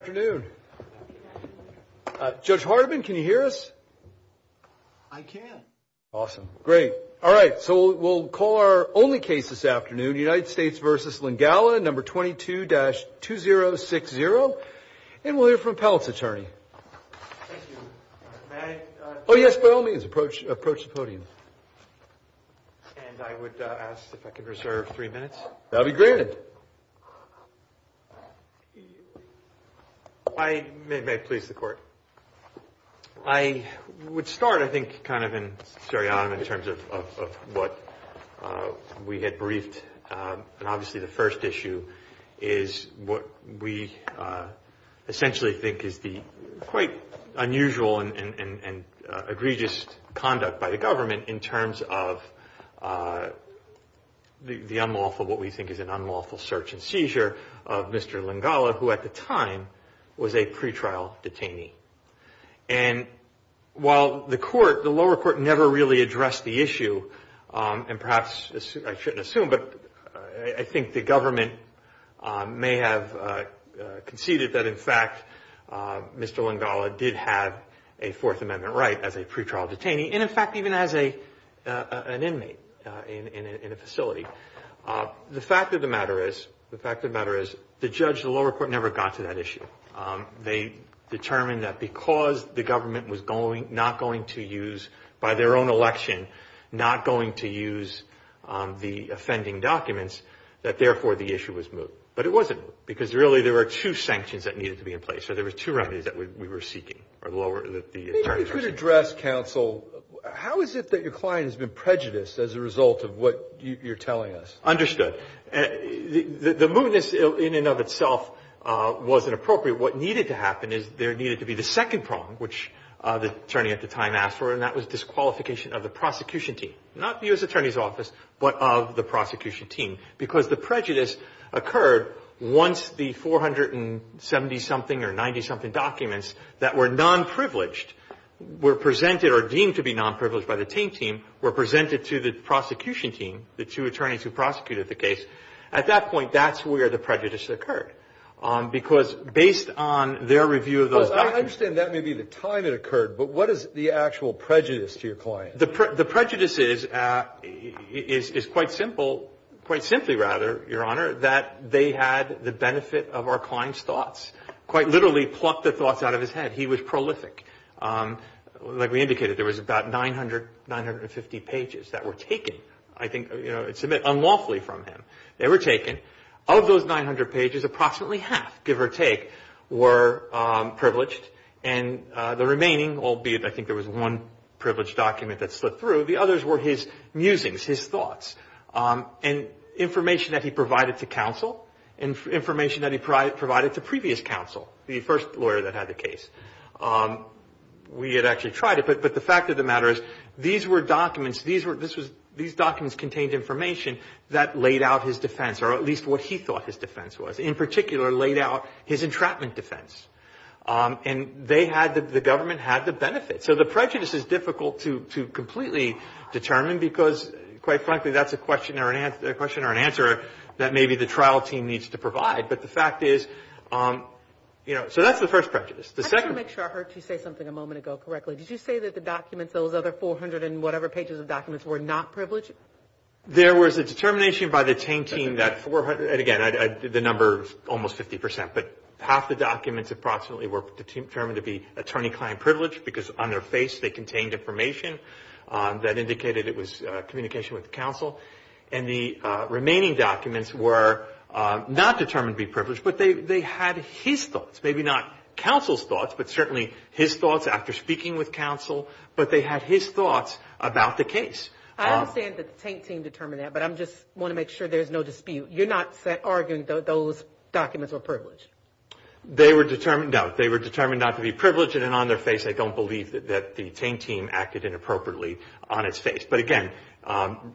afternoon. Judge Hardeman, can you hear us? I can. Awesome. Great. All right. So we'll call our only case this afternoon, United States versus Lingala number 22-2060. And we'll hear from Pelt's attorney. Oh, yes, by all means approach, approach the podium. And I would ask if I could reserve three minutes. That'll be granted. I may please the court. I would start, I think, kind of in seriatim in terms of what we had briefed. And obviously, the first issue is what we essentially think is the quite unusual and egregious conduct by the government in terms of the unlawful, what we think is an unlawful search and seizure of Mr. Lingala, who at the time was a pretrial detainee. And while the court, the lower court, never really addressed the issue, and perhaps I shouldn't assume, but I think the government may have conceded that, in fact, Mr. Lingala did have a Fourth Amendment right as a pretrial detainee, and in fact, even as a an inmate in a facility. The fact of the matter is, the fact of the matter is, the judge, the lower court, never got to that issue. They determined that because the government was not going to use, by their own election, not going to use the offending documents, that therefore the issue was moved. But it wasn't, because really there were two sanctions that needed to be in place. So there were two remedies that we were seeking. If we could address, counsel, how is it that your client has been prejudiced as a result of what you're telling us? Understood. The mootness in and of itself wasn't appropriate. What needed to happen is there needed to be the second problem, which the attorney at the time asked for, and that was disqualification of the prosecution team. Not the U.S. Attorney's Office, but of the prosecution team. Because the prejudice occurred once the 470-something or 90-something documents that were non-privileged were presented or deemed to be non-privileged by the Taint team were presented to the prosecution team, the two attorneys who prosecuted the case. At that point, that's where the prejudice occurred, because based on their review of those documents. Well, I understand that may be the time it occurred, but what is the actual prejudice to your client? The prejudice is quite simply, rather, Your Honor, that they had the benefit of our client's thoughts. Quite literally plucked the thoughts out of his head. He was prolific. Like we indicated, there was about 900, 950 pages that were taken. I think it's a bit unlawfully from him. They were taken. Of those 900 pages, approximately half, give or take, were privileged. The remaining, albeit I think there was one privileged document that slipped through, the others were his musings, his thoughts. Information that he provided to counsel, and information that he provided to previous counsel, the first lawyer that had the case. We had actually tried it, but the fact of the matter is, these documents contained information that laid out his defense, or at least what he thought his defense was. In particular, laid out his entrapment defense. They had, the government had the benefit. So the prejudice is difficult to completely determine, because quite frankly, that's a question or an answer that maybe the trial team needs to provide. But the fact is, you know, so that's the first prejudice. I just want to make sure I heard you say something a moment ago correctly. Did you say that the documents, those other 400 and whatever pages of documents, were not privileged? There was a determination by the Tain team that 400, and again, the number is almost 50%, but half the documents approximately were determined to be attorney-client privilege, because on their face they contained information that indicated it was communication with counsel. And the remaining documents were not determined to be privileged, but they had his thoughts. Maybe not counsel's thoughts, but certainly his thoughts after speaking with counsel. But they had his thoughts about the case. I understand that the Tain team determined that, but I just want to make sure there's no dispute. You're not arguing that those documents were privileged? They were determined, no. They were determined not to be privileged, and on their face, I don't believe that the Tain team acted inappropriately on its face. But again,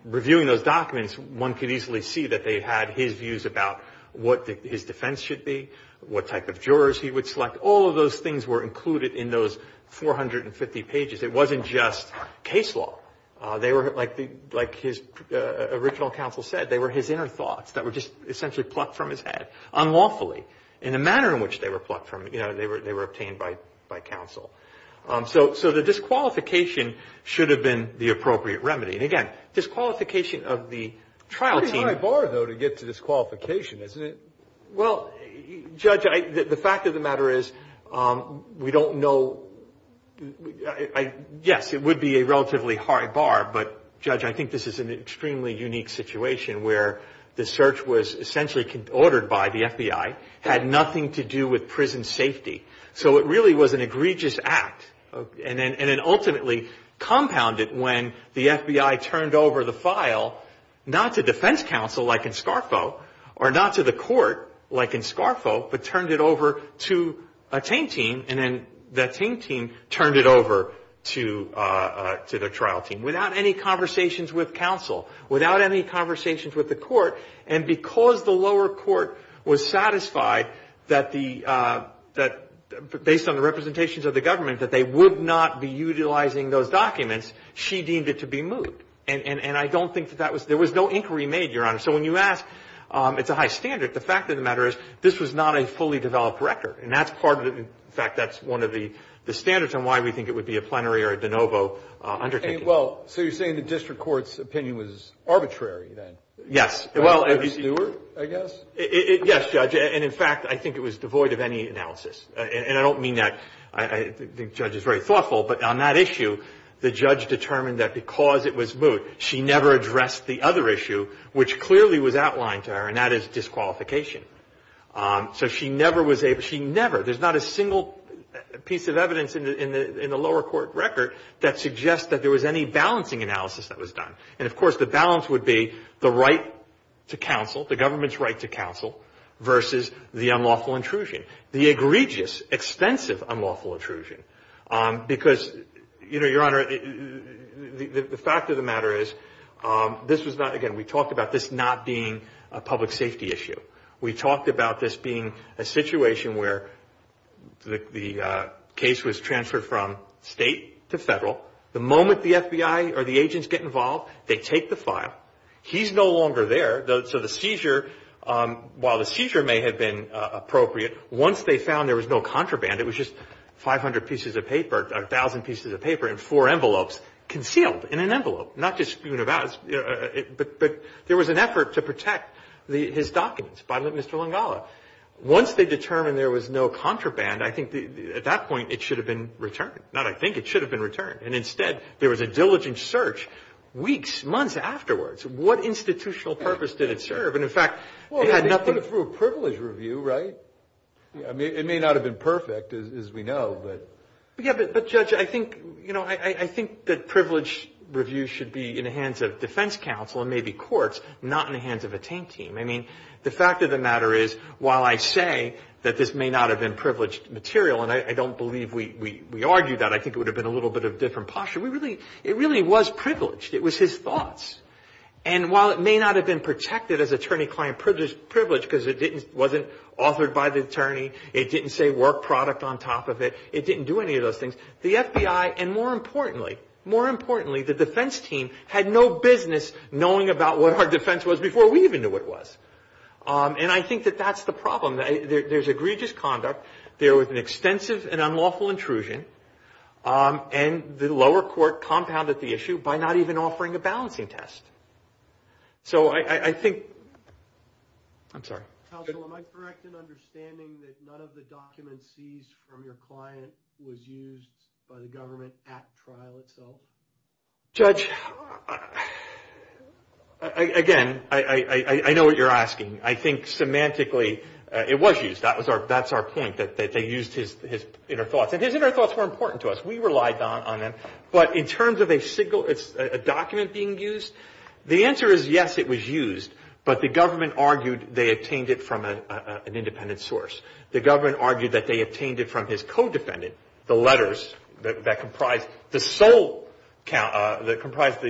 reviewing those documents, one could easily see that they had his views about what his defense should be, what type of jurors he would select. All of those things were included in those 450 pages. It wasn't just case law. They were, like his original counsel said, they were his inner thoughts that were just essentially plucked from his head, unlawfully. In the manner in which they were plucked from, you know, they were obtained by counsel. So the disqualification should have been the appropriate remedy. And again, disqualification of the trial team... Pretty high bar, though, to get to disqualification, isn't it? Well, Judge, the fact of the matter is we don't know... Yes, it would be a relatively high bar. But, Judge, I think this is an extremely unique situation where the search was essentially ordered by the FBI, had nothing to do with prison safety. So it really was an egregious act, and it ultimately compounded when the FBI turned over the file, not to defense counsel like in Scarfo, or not to the court like in Scarfo, but turned it over to a Tain team. And then the Tain team turned it over to the trial team without any conversations with counsel, without any conversations with the court. And because the lower court was satisfied that based on the representations of the government that they would not be utilizing those documents, she deemed it to be moot. And I don't think that that was... There was no inquiry made, Your Honor. So when you ask, it's a high standard. The fact of the matter is this was not a fully developed record. And that's part of it. In fact, that's one of the standards on why we think it would be a plenary or a de novo undertaking. Well, so you're saying the district court's opinion was arbitrary then? Yes. Well, I guess. Yes, Judge. And in fact, I think it was devoid of any analysis. And I don't mean that. I think the judge is very thoughtful. But on that issue, the judge determined that because it was moot, she never addressed the other issue, which clearly was outlined to her. And that is disqualification. So she never was able... She never... There's not a single piece of evidence in the lower court record that suggests that there was any balancing analysis that was done. And of course, the balance would be the right to counsel, the government's right to counsel versus the unlawful intrusion. The egregious, extensive unlawful intrusion. Because, you know, Your Honor, the fact of the matter is this was not... Again, we talked about this not being a public safety issue. We talked about this being a situation where the case was transferred from state to federal. The moment the FBI or the agents get involved, they take the file. He's no longer there. So the seizure, while the seizure may have been appropriate, once they found there was no contraband, it was just 500 pieces of paper, 1,000 pieces of paper in four envelopes concealed in an envelope. Not just in an envelope, but there was an effort to protect his documents by Mr. Langala. Once they determined there was no contraband, I think at that point, it should have been returned. Not I think, it should have been returned. And instead, there was a diligent search weeks, months afterwards. What institutional purpose did it serve? And in fact, it had nothing... Well, they put it through a privilege review, right? It may not have been perfect, as we know, but... Yeah, but Judge, I think, you know, I think that privilege review should be in the hands of defense counsel and maybe courts, not in the hands of a tank team. I mean, the fact of the matter is, while I say that this may not have been privileged material, and I don't believe we argued that. I think it would have been a little bit of a different posture. We really... It really was privileged. It was his thoughts. And while it may not have been protected as attorney-client privilege, because it wasn't authored by the attorney. It didn't say work product on top of it. It didn't do any of those things. The FBI, and more importantly, more importantly, the defense team had no business knowing about what our defense was before we even knew what it was. And I think that that's the problem. There's egregious conduct. There was an extensive and unlawful intrusion. And the lower court compounded the issue by not even offering a balancing test. So I think... I'm sorry. Counsel, am I correct in understanding that none of the documents seized from your client was used by the government at trial itself? Judge, again, I know what you're asking. I think semantically, it was used. That's our point, that they used his inner thoughts. And his inner thoughts were important to us. We relied on them. But in terms of a document being used, the answer is yes, it was used. But the government argued they obtained it from an independent source. The government argued that they obtained it from his co-defendant. The letters that comprised the sole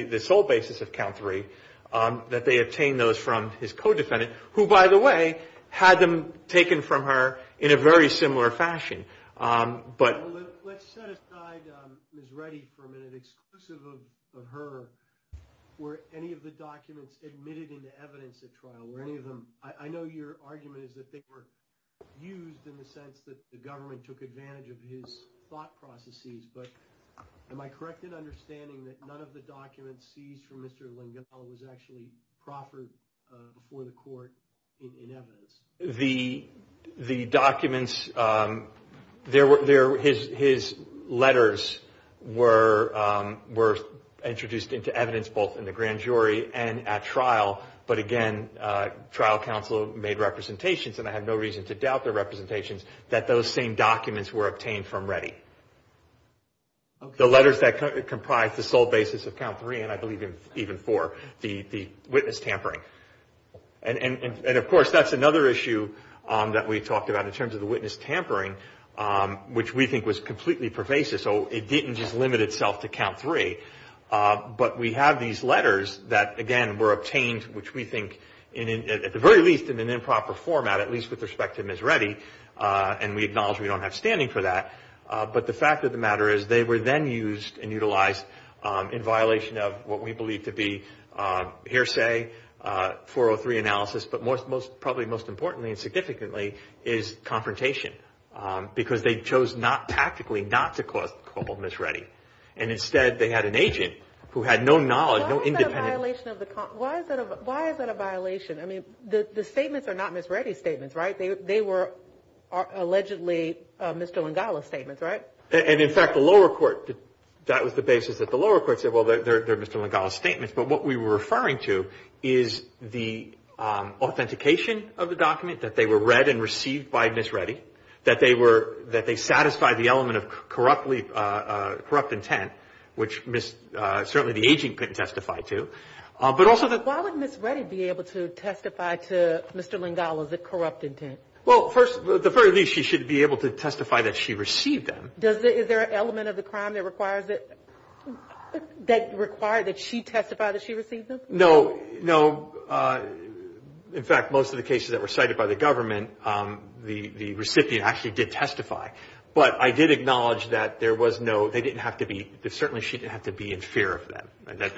basis of count three, that they obtained those from his co-defendant, who, by the way, had them taken from her in a very similar fashion. Let's set aside Ms. Reddy for a minute. Was it exclusive of her were any of the documents admitted into evidence at trial? Were any of them... I know your argument is that they were used in the sense that the government took advantage of his thought processes. But am I correct in understanding that none of the documents seized from Mr. Lengel was actually proffered before the court in evidence? The documents... His letters were introduced into evidence both in the grand jury and at trial. But again, trial counsel made representations, and I have no reason to doubt their representations, that those same documents were obtained from Reddy. The letters that comprised the sole basis of count three, and I believe even four, the witness tampering. And of course, that's another issue that we talked about in terms of the witness tampering, which we think was completely pervasive. So it didn't just limit itself to count three. But we have these letters that, again, were obtained, which we think at the very least in an improper format, at least with respect to Ms. Reddy. And we acknowledge we don't have standing for that. But the fact of the matter is they were then used and utilized in violation of what we believe to be hearsay, 403 analysis. But probably most importantly and significantly is confrontation. Because they chose not tactically not to call Ms. Reddy. And instead, they had an agent who had no knowledge, no independent... Why is that a violation? I mean, the statements are not Ms. Reddy's statements, right? They were allegedly Mr. Lengel's statements, right? And in fact, the lower court, that was the basis that the lower court said, they're Mr. Lengel's statements. But what we were referring to is the authentication of the document, that they were read and received by Ms. Reddy, that they satisfied the element of corrupt intent, which certainly the agent couldn't testify to. But also... Why would Ms. Reddy be able to testify to Mr. Lengel as a corrupt intent? Well, first, at the very least, she should be able to testify that she received them. Is there an element of the crime that requires that she testify that she received them? No, no. In fact, most of the cases that were cited by the government, the recipient actually did testify. But I did acknowledge that there was no... They didn't have to be... Certainly, she didn't have to be in fear of them.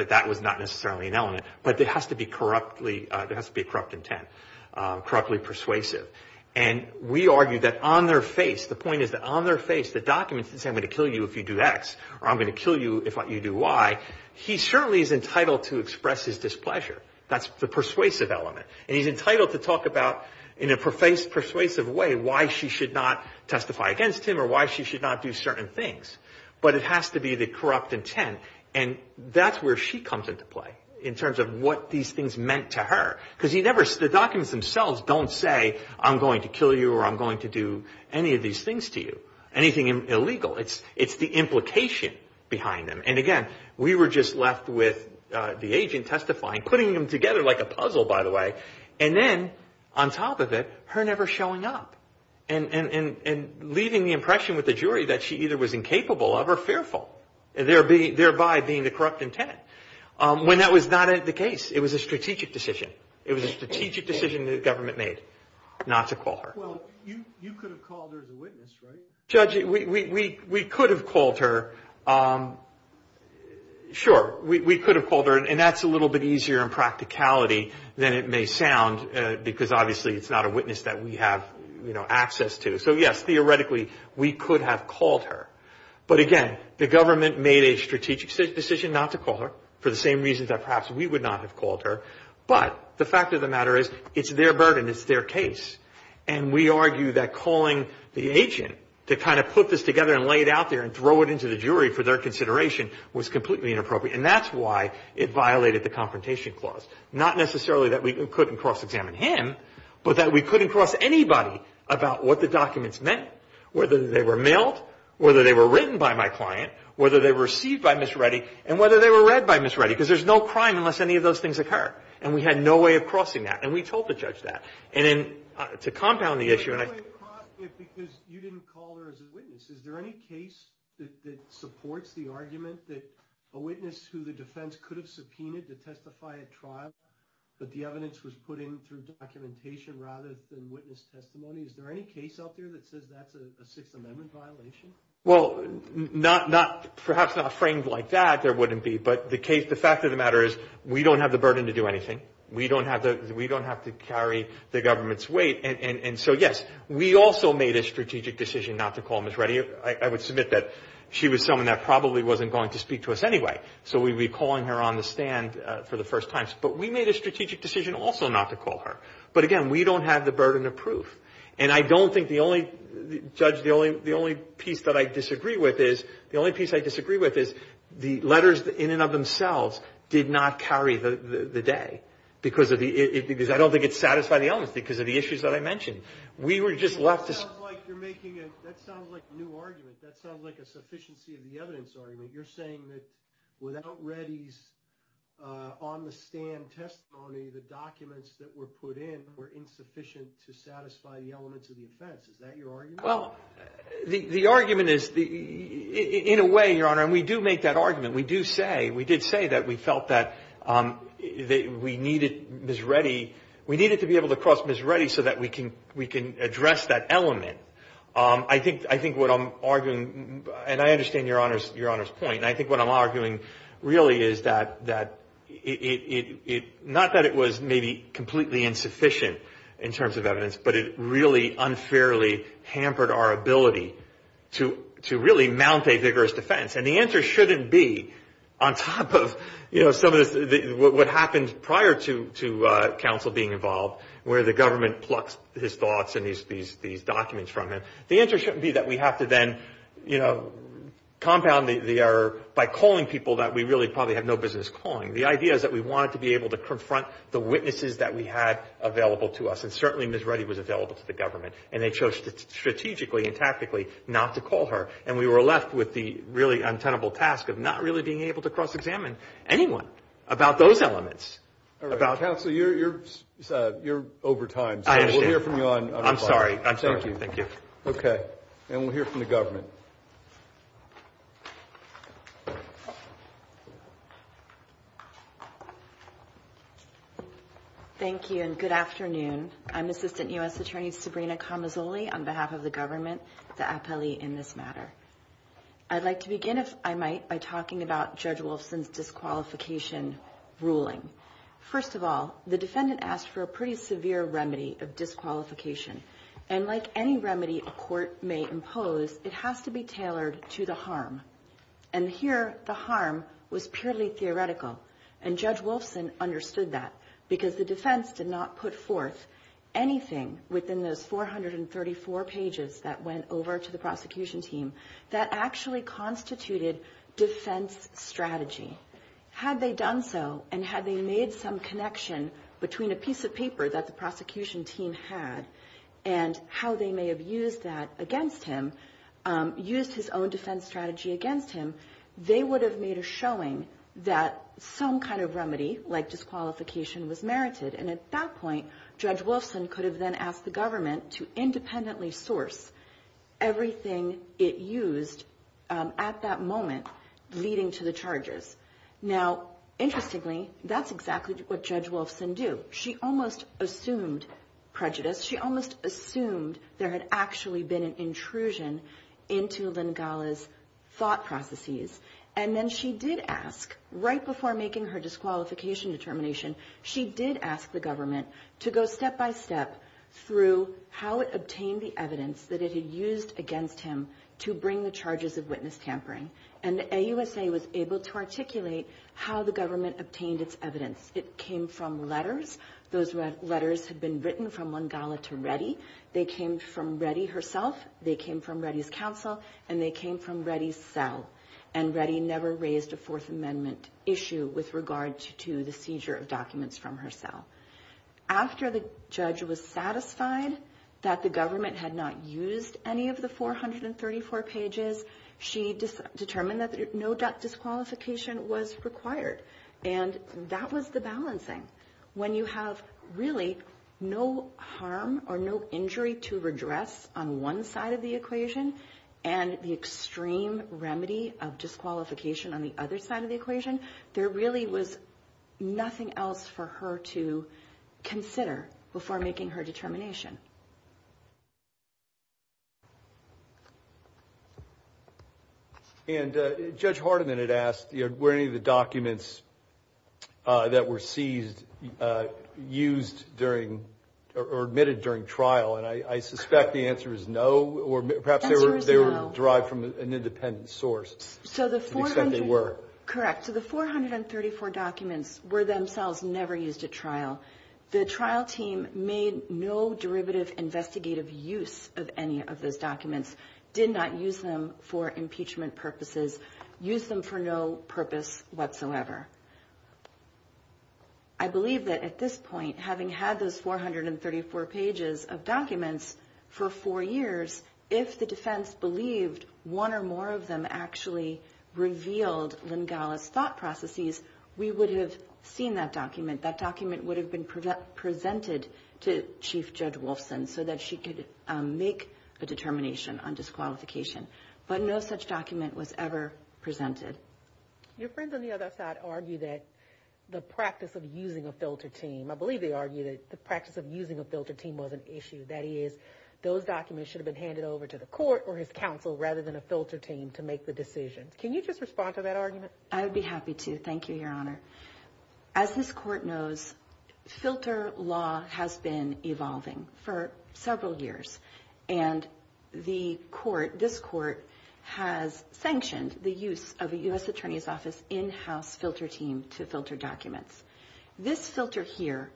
That was not necessarily an element. But there has to be corrupt intent, corruptly persuasive. And we argue that on their face, the point is that on their face, the documents didn't say, I'm going to kill you if you do X, or I'm going to kill you if you do Y. He certainly is entitled to express his displeasure. That's the persuasive element. And he's entitled to talk about, in a persuasive way, why she should not testify against him or why she should not do certain things. But it has to be the corrupt intent. And that's where she comes into play, in terms of what these things meant to her. Because the documents themselves don't say, I'm going to kill you or I'm going to do any of these things to you. Anything illegal. It's the implication behind them. And again, we were just left with the agent testifying, putting them together like a puzzle, by the way. And then, on top of it, her never showing up and leaving the impression with the jury that she either was incapable of or fearful, thereby being the corrupt intent. When that was not the case, it was a strategic decision. It was a strategic decision the government made not to call her. Well, you could have called her as a witness, right? Judge, we could have called her. Sure, we could have called her. And that's a little bit easier in practicality than it may sound. Because obviously, it's not a witness that we have access to. So yes, theoretically, we could have called her. But again, the government made a strategic decision not to call her, for the same reasons that perhaps we would not have called her. But the fact of the matter is, it's their burden. It's their case. And we argue that calling the agent to kind of put this together and lay it out there and throw it into the jury for their consideration was completely inappropriate. And that's why it violated the Confrontation Clause. Not necessarily that we couldn't cross-examine him, but that we couldn't cross anybody about what the documents meant, whether they were mailed, whether they were written by my client, whether they were received by Ms. Reddy, and whether they were read by Ms. Reddy. Because there's no crime unless any of those things occur. And we had no way of crossing that. And we told the judge that. And then, to compound the issue, and I— You had no way of crossing it because you didn't call her as a witness. Is there any case that supports the argument that a witness who the defense could have subpoenaed to testify at trial, but the evidence was put in through documentation rather than witness testimony? Is there any case out there that says that's a Sixth Amendment violation? Well, perhaps not framed like that, there wouldn't be. But the fact of the matter is, we don't have the burden to do anything. We don't have to carry the government's weight. And so, yes, we also made a strategic decision not to call Ms. Reddy. I would submit that she was someone that probably wasn't going to speak to us anyway. So we'd be calling her on the stand for the first time. But we made a strategic decision also not to call her. But again, we don't have the burden of proof. And I don't think the only— Judge, the only piece that I disagree with is— The only piece I disagree with is the letters in and of themselves did not carry the day. Because I don't think it satisfied the elements because of the issues that I mentioned. We were just left— It sounds like you're making a—that sounds like a new argument. That sounds like a sufficiency of the evidence argument. You're saying that without Reddy's on-the-stand testimony, the documents that were put in were insufficient to satisfy the elements of the offense. Is that your argument? Well, the argument is—in a way, Your Honor, and we do make that argument. We did say that we felt that we needed Ms. Reddy— We needed to be able to cross Ms. Reddy so that we can address that element. I think what I'm arguing—and I understand Your Honor's point. And I think what I'm arguing really is that it— Not that it was maybe completely insufficient in terms of evidence, but it really unfairly hampered our ability to really mount a vigorous defense. And the answer shouldn't be on top of some of this— What happened prior to counsel being involved, where the government plucked his thoughts and these documents from him. The answer shouldn't be that we have to then compound the error by calling people that we really probably have no business calling. The idea is that we wanted to be able to confront the witnesses that we had available to us. And certainly, Ms. Reddy was available to the government. And they chose strategically and tactically not to call her. And we were left with the really untenable task of not really being able to cross-examine anyone about those elements. All right. Counsel, you're over time. I understand. So we'll hear from you on— I'm sorry. I'm sorry. Thank you. Okay. And we'll hear from the government. I'm Assistant U.S. Attorney Sabrina Camazoli on behalf of the government to appellee in this matter. I'd like to begin, if I might, by talking about Judge Wolfson's disqualification ruling. First of all, the defendant asked for a pretty severe remedy of disqualification. And like any remedy a court may impose, it has to be tailored to the harm. And here, the harm was purely theoretical. And Judge Wolfson understood that because the defense did not put forth anything within those 434 pages that went over to the prosecution team that actually constituted defense strategy. Had they done so, and had they made some connection between a piece of paper that the prosecution team had and how they may have used that against him, used his own defense strategy against him, they would have made a showing that some kind of remedy, like disqualification, was merited. And at that point, Judge Wolfson could have then asked the government to independently source everything it used at that moment, leading to the charges. Now, interestingly, that's exactly what Judge Wolfson did. She almost assumed prejudice. She almost assumed there had actually been an intrusion into Lynn Galla's thought processes. And then she did ask, right before making her disqualification determination, she did ask the government to go step by step through how it obtained the evidence that it had used against him to bring the charges of witness tampering. And the AUSA was able to articulate how the government obtained its evidence. It came from letters. Those letters had been written from Lynn Galla to Reddy. They came from Reddy herself. They came from Reddy's counsel. And they came from Reddy's cell. And Reddy never raised a Fourth Amendment issue with regard to the seizure of documents from her cell. After the judge was satisfied that the government had not used any of the 434 pages, she determined that no disqualification was required. And that was the balancing. When you have really no harm or no injury to redress on one side of the equation, and the extreme remedy of disqualification on the other side of the equation, there really was nothing else for her to consider before making her determination. And Judge Hardiman had asked, were any of the documents that were seized, used during, or admitted during trial? And I suspect the answer is no. Or perhaps they were derived from an independent source. To the extent they were. Correct. So the 434 documents were themselves never used at trial. The trial team made no derivative investigative use of any of those documents. Did not use them for impeachment purposes. Used them for no purpose whatsoever. I believe that at this point, having had those 434 pages of documents for four years, if the defense believed one or more of them actually revealed Lynn Gallis' thought processes, we would have seen that document. That document would have been presented to Chief Judge Wolfson so that she could make a determination on disqualification. But no such document was ever presented. Your friends on the other side argue that the practice of using a filter team, I believe they argue that the practice of using a filter team was an issue. That is, those documents should have been handed over to the court or his counsel rather than a filter team to make the decision. Can you just respond to that argument? I would be happy to. Thank you, Your Honor. As this court knows, filter law has been evolving for several years. And this court has sanctioned the use of a U.S. Attorney's Office in-house filter team to filter documents. This filter here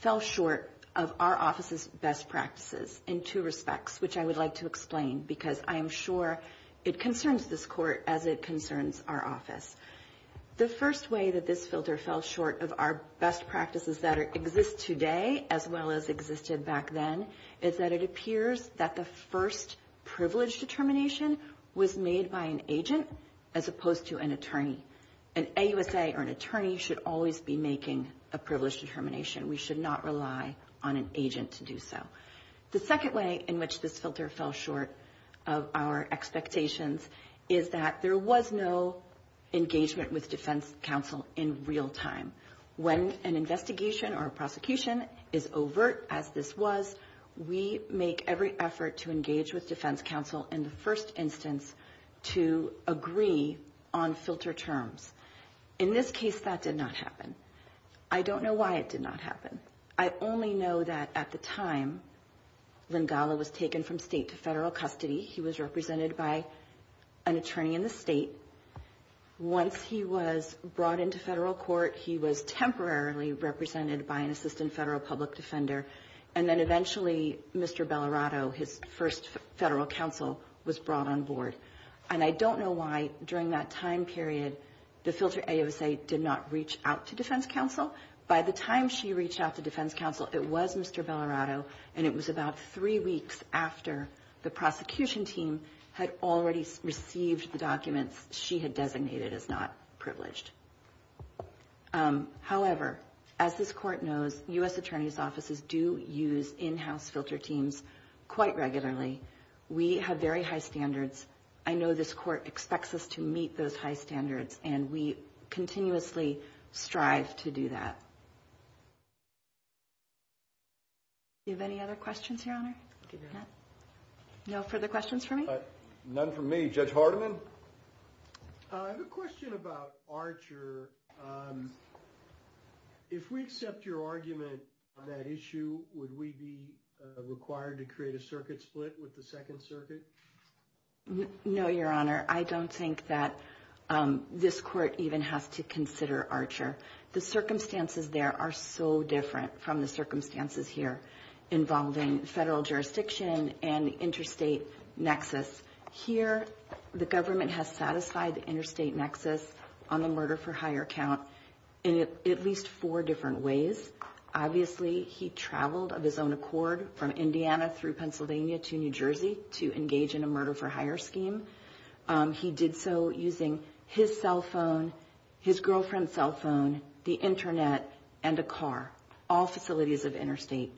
fell short of our office's best practices in two respects, which I would like to explain because I am sure it concerns this court as it concerns our office. The first way that this filter fell short of our best practices that exist today as well as existed back then is that it appears that the first privilege determination was made by an agent as opposed to an attorney. An AUSA or an attorney should always be making a privilege determination. We should not rely on an agent to do so. The second way in which this filter fell short of our expectations is that there was no engagement with defense counsel in real time. When an investigation or prosecution is overt as this was, we make every effort to engage with defense counsel in the first instance to agree on filter terms. In this case, that did not happen. I don't know why it did not happen. I only know that at the time, Lingala was taken from state to federal custody. He was represented by an attorney in the state. Once he was brought into federal court, he was temporarily represented by an assistant federal public defender. And then eventually, Mr. Bellarato, his first federal counsel, was brought on board. And I don't know why during that time period, the filter AUSA did not reach out to defense counsel. By the time she reached out to defense counsel, it was Mr. Bellarato. And it was about three weeks after the prosecution team had already received the documents she had designated as not privileged. However, as this court knows, U.S. attorneys' offices do use in-house filter teams quite regularly. We have very high standards. I know this court expects us to meet those high standards, and we continuously strive to do that. Do you have any other questions, Your Honor? No further questions for me? None from me. Judge Hardiman? I have a question about Archer. If we accept your argument on that issue, would we be required to create a circuit split with the Second Circuit? No, Your Honor. I don't think that this court even has to consider Archer. The circumstances there are so different from the circumstances here involving federal jurisdiction and the interstate nexus. Here, the government has satisfied the interstate nexus on the murder-for-hire count in at least four different ways. Obviously, he traveled of his own accord from Indiana through Pennsylvania to New Jersey to engage in a murder-for-hire scheme. He did so using his cell phone, his girlfriend's cell phone, the internet, and a car. All facilities of interstate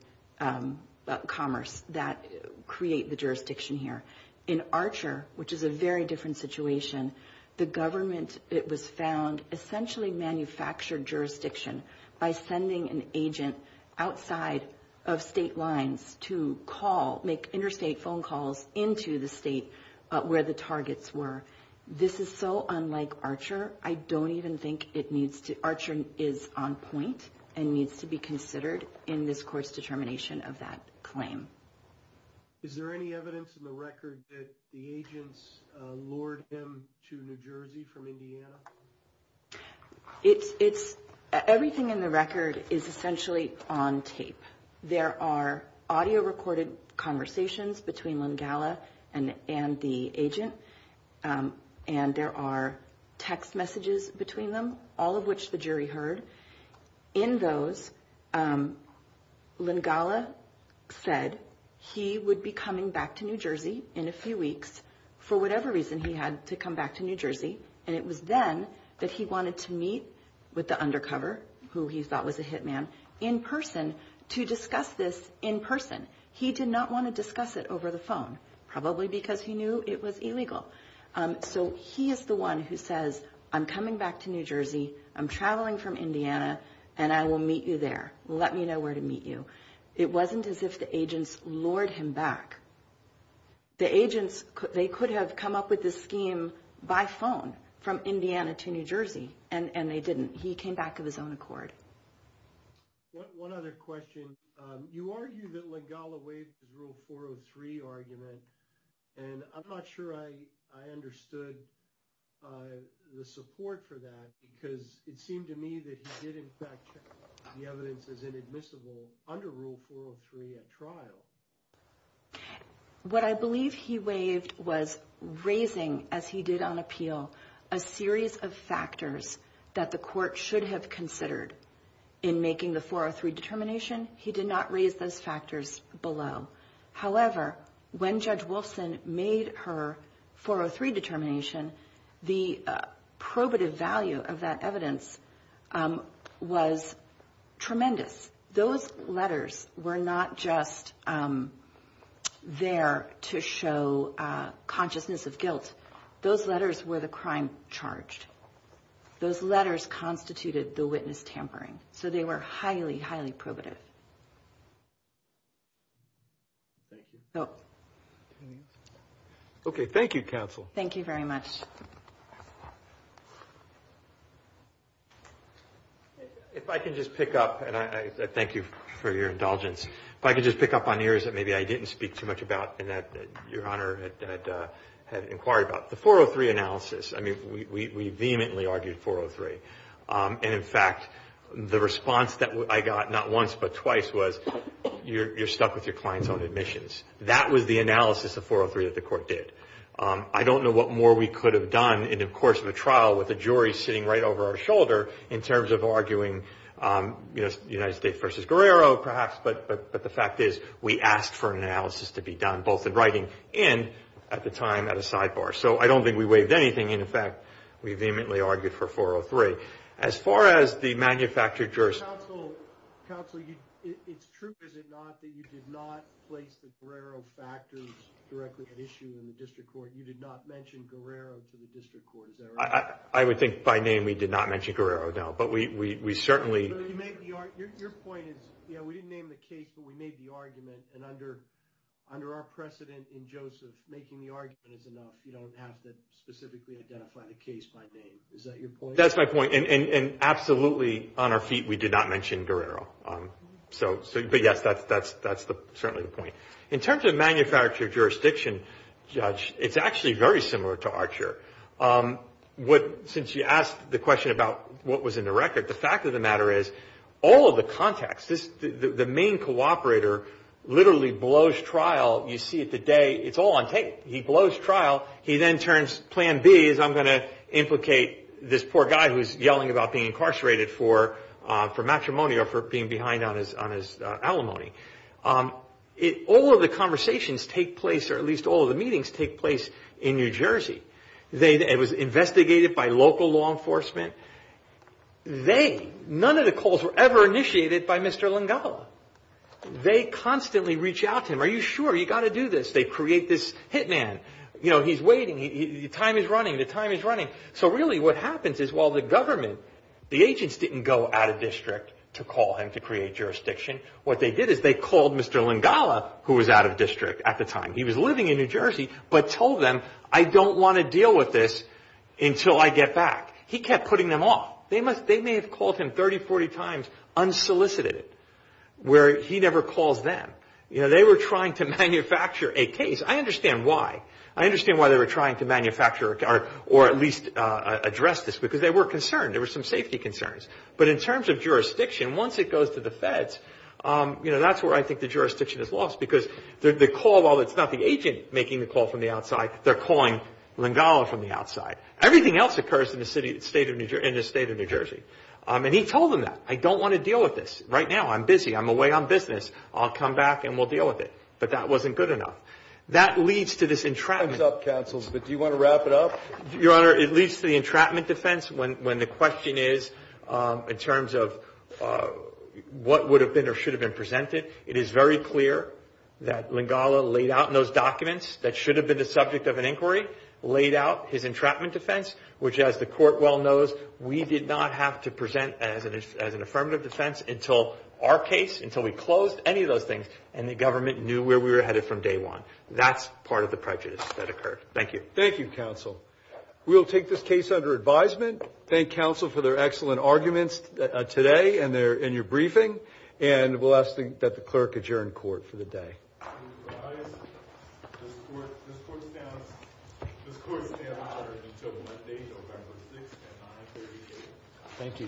commerce that create the jurisdiction here. In Archer, which is a very different situation, the government, it was found, essentially manufactured jurisdiction by sending an agent outside of state lines to make interstate phone calls into the state where the targets were. This is so unlike Archer. I don't even think Archer is on point and needs to be considered in this court's determination of that claim. Is there any evidence in the record that the agents lured him to New Jersey from Indiana? Everything in the record is essentially on tape. There are audio-recorded conversations between Langala and the agent, and there are text messages between them, all of which the jury heard. In those, Langala said he would be coming back to New Jersey in a few weeks for whatever reason he had to come back to New Jersey. And it was then that he wanted to meet with the undercover, who he thought was a hitman, in person to discuss this in person. He did not want to discuss it over the phone, probably because he knew it was illegal. So he is the one who says, I'm coming back to New Jersey, I'm traveling from Indiana, and I will meet you there. Let me know where to meet you. It wasn't as if the agents lured him back. The agents, they could have come up with this scheme by phone from Indiana to New Jersey, and they didn't. He came back of his own accord. One other question. You argued that Langala waived the Rule 403 argument, and I'm not sure I understood the support for that, because it seemed to me that he did in fact check the evidence as inadmissible under Rule 403 at trial. What I believe he waived was raising, as he did on appeal, a series of factors that the court should have considered in making the 403 determination. He did not raise those factors below. However, when Judge Wolfson made her 403 determination, the probative value of that evidence was tremendous. Those letters were not just there to show consciousness of guilt. Those letters were the crime charged. Those letters constituted the witness tampering. So they were highly, highly probative. Thank you. No. Okay. Thank you, counsel. Thank you very much. If I can just pick up, and I thank you for your indulgence. If I could just pick up on areas that maybe I didn't speak too much about and that Your Honor had inquired about. The 403 analysis. I mean, we vehemently argued 403. And in fact, the response that I got, not once but twice, was you're stuck with your client's own admissions. That was the analysis of 403 that the court did. I don't know what more we could have done in the course of a trial with a jury sitting right over our shoulder in terms of arguing United States versus Guerrero, perhaps. But the fact is, we asked for an analysis to be done, both in writing and at the time at a sidebar. So I don't think we waived anything. And in fact, we vehemently argued for 403. As far as the manufactured jurors. Counsel, it's true, is it not, that you did not place the Guerrero factors directly at issue in the district court. You did not mention Guerrero to the district court. Is that right? I would think by name we did not mention Guerrero, no. But we certainly... Your point is, yeah, we didn't name the case, but we made the argument. And under our precedent in Joseph, making the argument is enough. You don't have to specifically identify the case by name. Is that your point? That's my point. And absolutely, on our feet, we did not mention Guerrero. But yes, that's certainly the point. In terms of manufactured jurisdiction, Judge, it's actually very similar to Archer. Since you asked the question about what was in the record, the fact of the matter is, all of the contacts, the main cooperator literally blows trial. You see it today, it's all on tape. He blows trial. He then turns... Plan B is I'm going to implicate this poor guy who's yelling about being incarcerated for matrimony or for being behind on his alimony. All of the conversations take place, or at least all of the meetings take place in New Jersey. It was investigated by local law enforcement. None of the calls were ever initiated by Mr. Lingala. They constantly reach out to him. Are you sure? You got to do this. They create this hitman. You know, he's waiting. The time is running. The time is running. So really, what happens is while the government, the agents didn't go out of district to call him to create jurisdiction. What they did is they called Mr. Lingala, who was out of district at the time. He was living in New Jersey, but told them, I don't want to deal with this until I get back. He kept putting them off. They may have called him 30, 40 times unsolicited, where he never calls them. They were trying to manufacture a case. I understand why. I understand why they were trying to manufacture or at least address this, because they were concerned. There were some safety concerns. But in terms of jurisdiction, once it goes to the feds, that's where I think the jurisdiction is lost, because the call, while it's not the agent making the call from the outside, they're calling Lingala from the outside. Everything else occurs in the state of New Jersey. And he told them that. I don't want to deal with this right now. I'm busy. I'm away on business. I'll come back and we'll deal with it. But that wasn't good enough. That leads to this entrapment. Time's up, counsels. But do you want to wrap it up? Your Honor, it leads to the entrapment defense when the question is in terms of what would have been or should have been presented. It is very clear that Lingala laid out in those documents that should have been the subject of an inquiry, laid out his entrapment defense, which as the court well knows, we did not have to present as an affirmative defense until our case, until we closed any of those things and the government knew where we were headed from day one. That's part of the prejudice that occurred. Thank you. Thank you, counsel. We'll take this case under advisement. Thank counsel for their excellent arguments today and your briefing. And we'll ask that the clerk adjourn court for the day. Thank you. Thank you.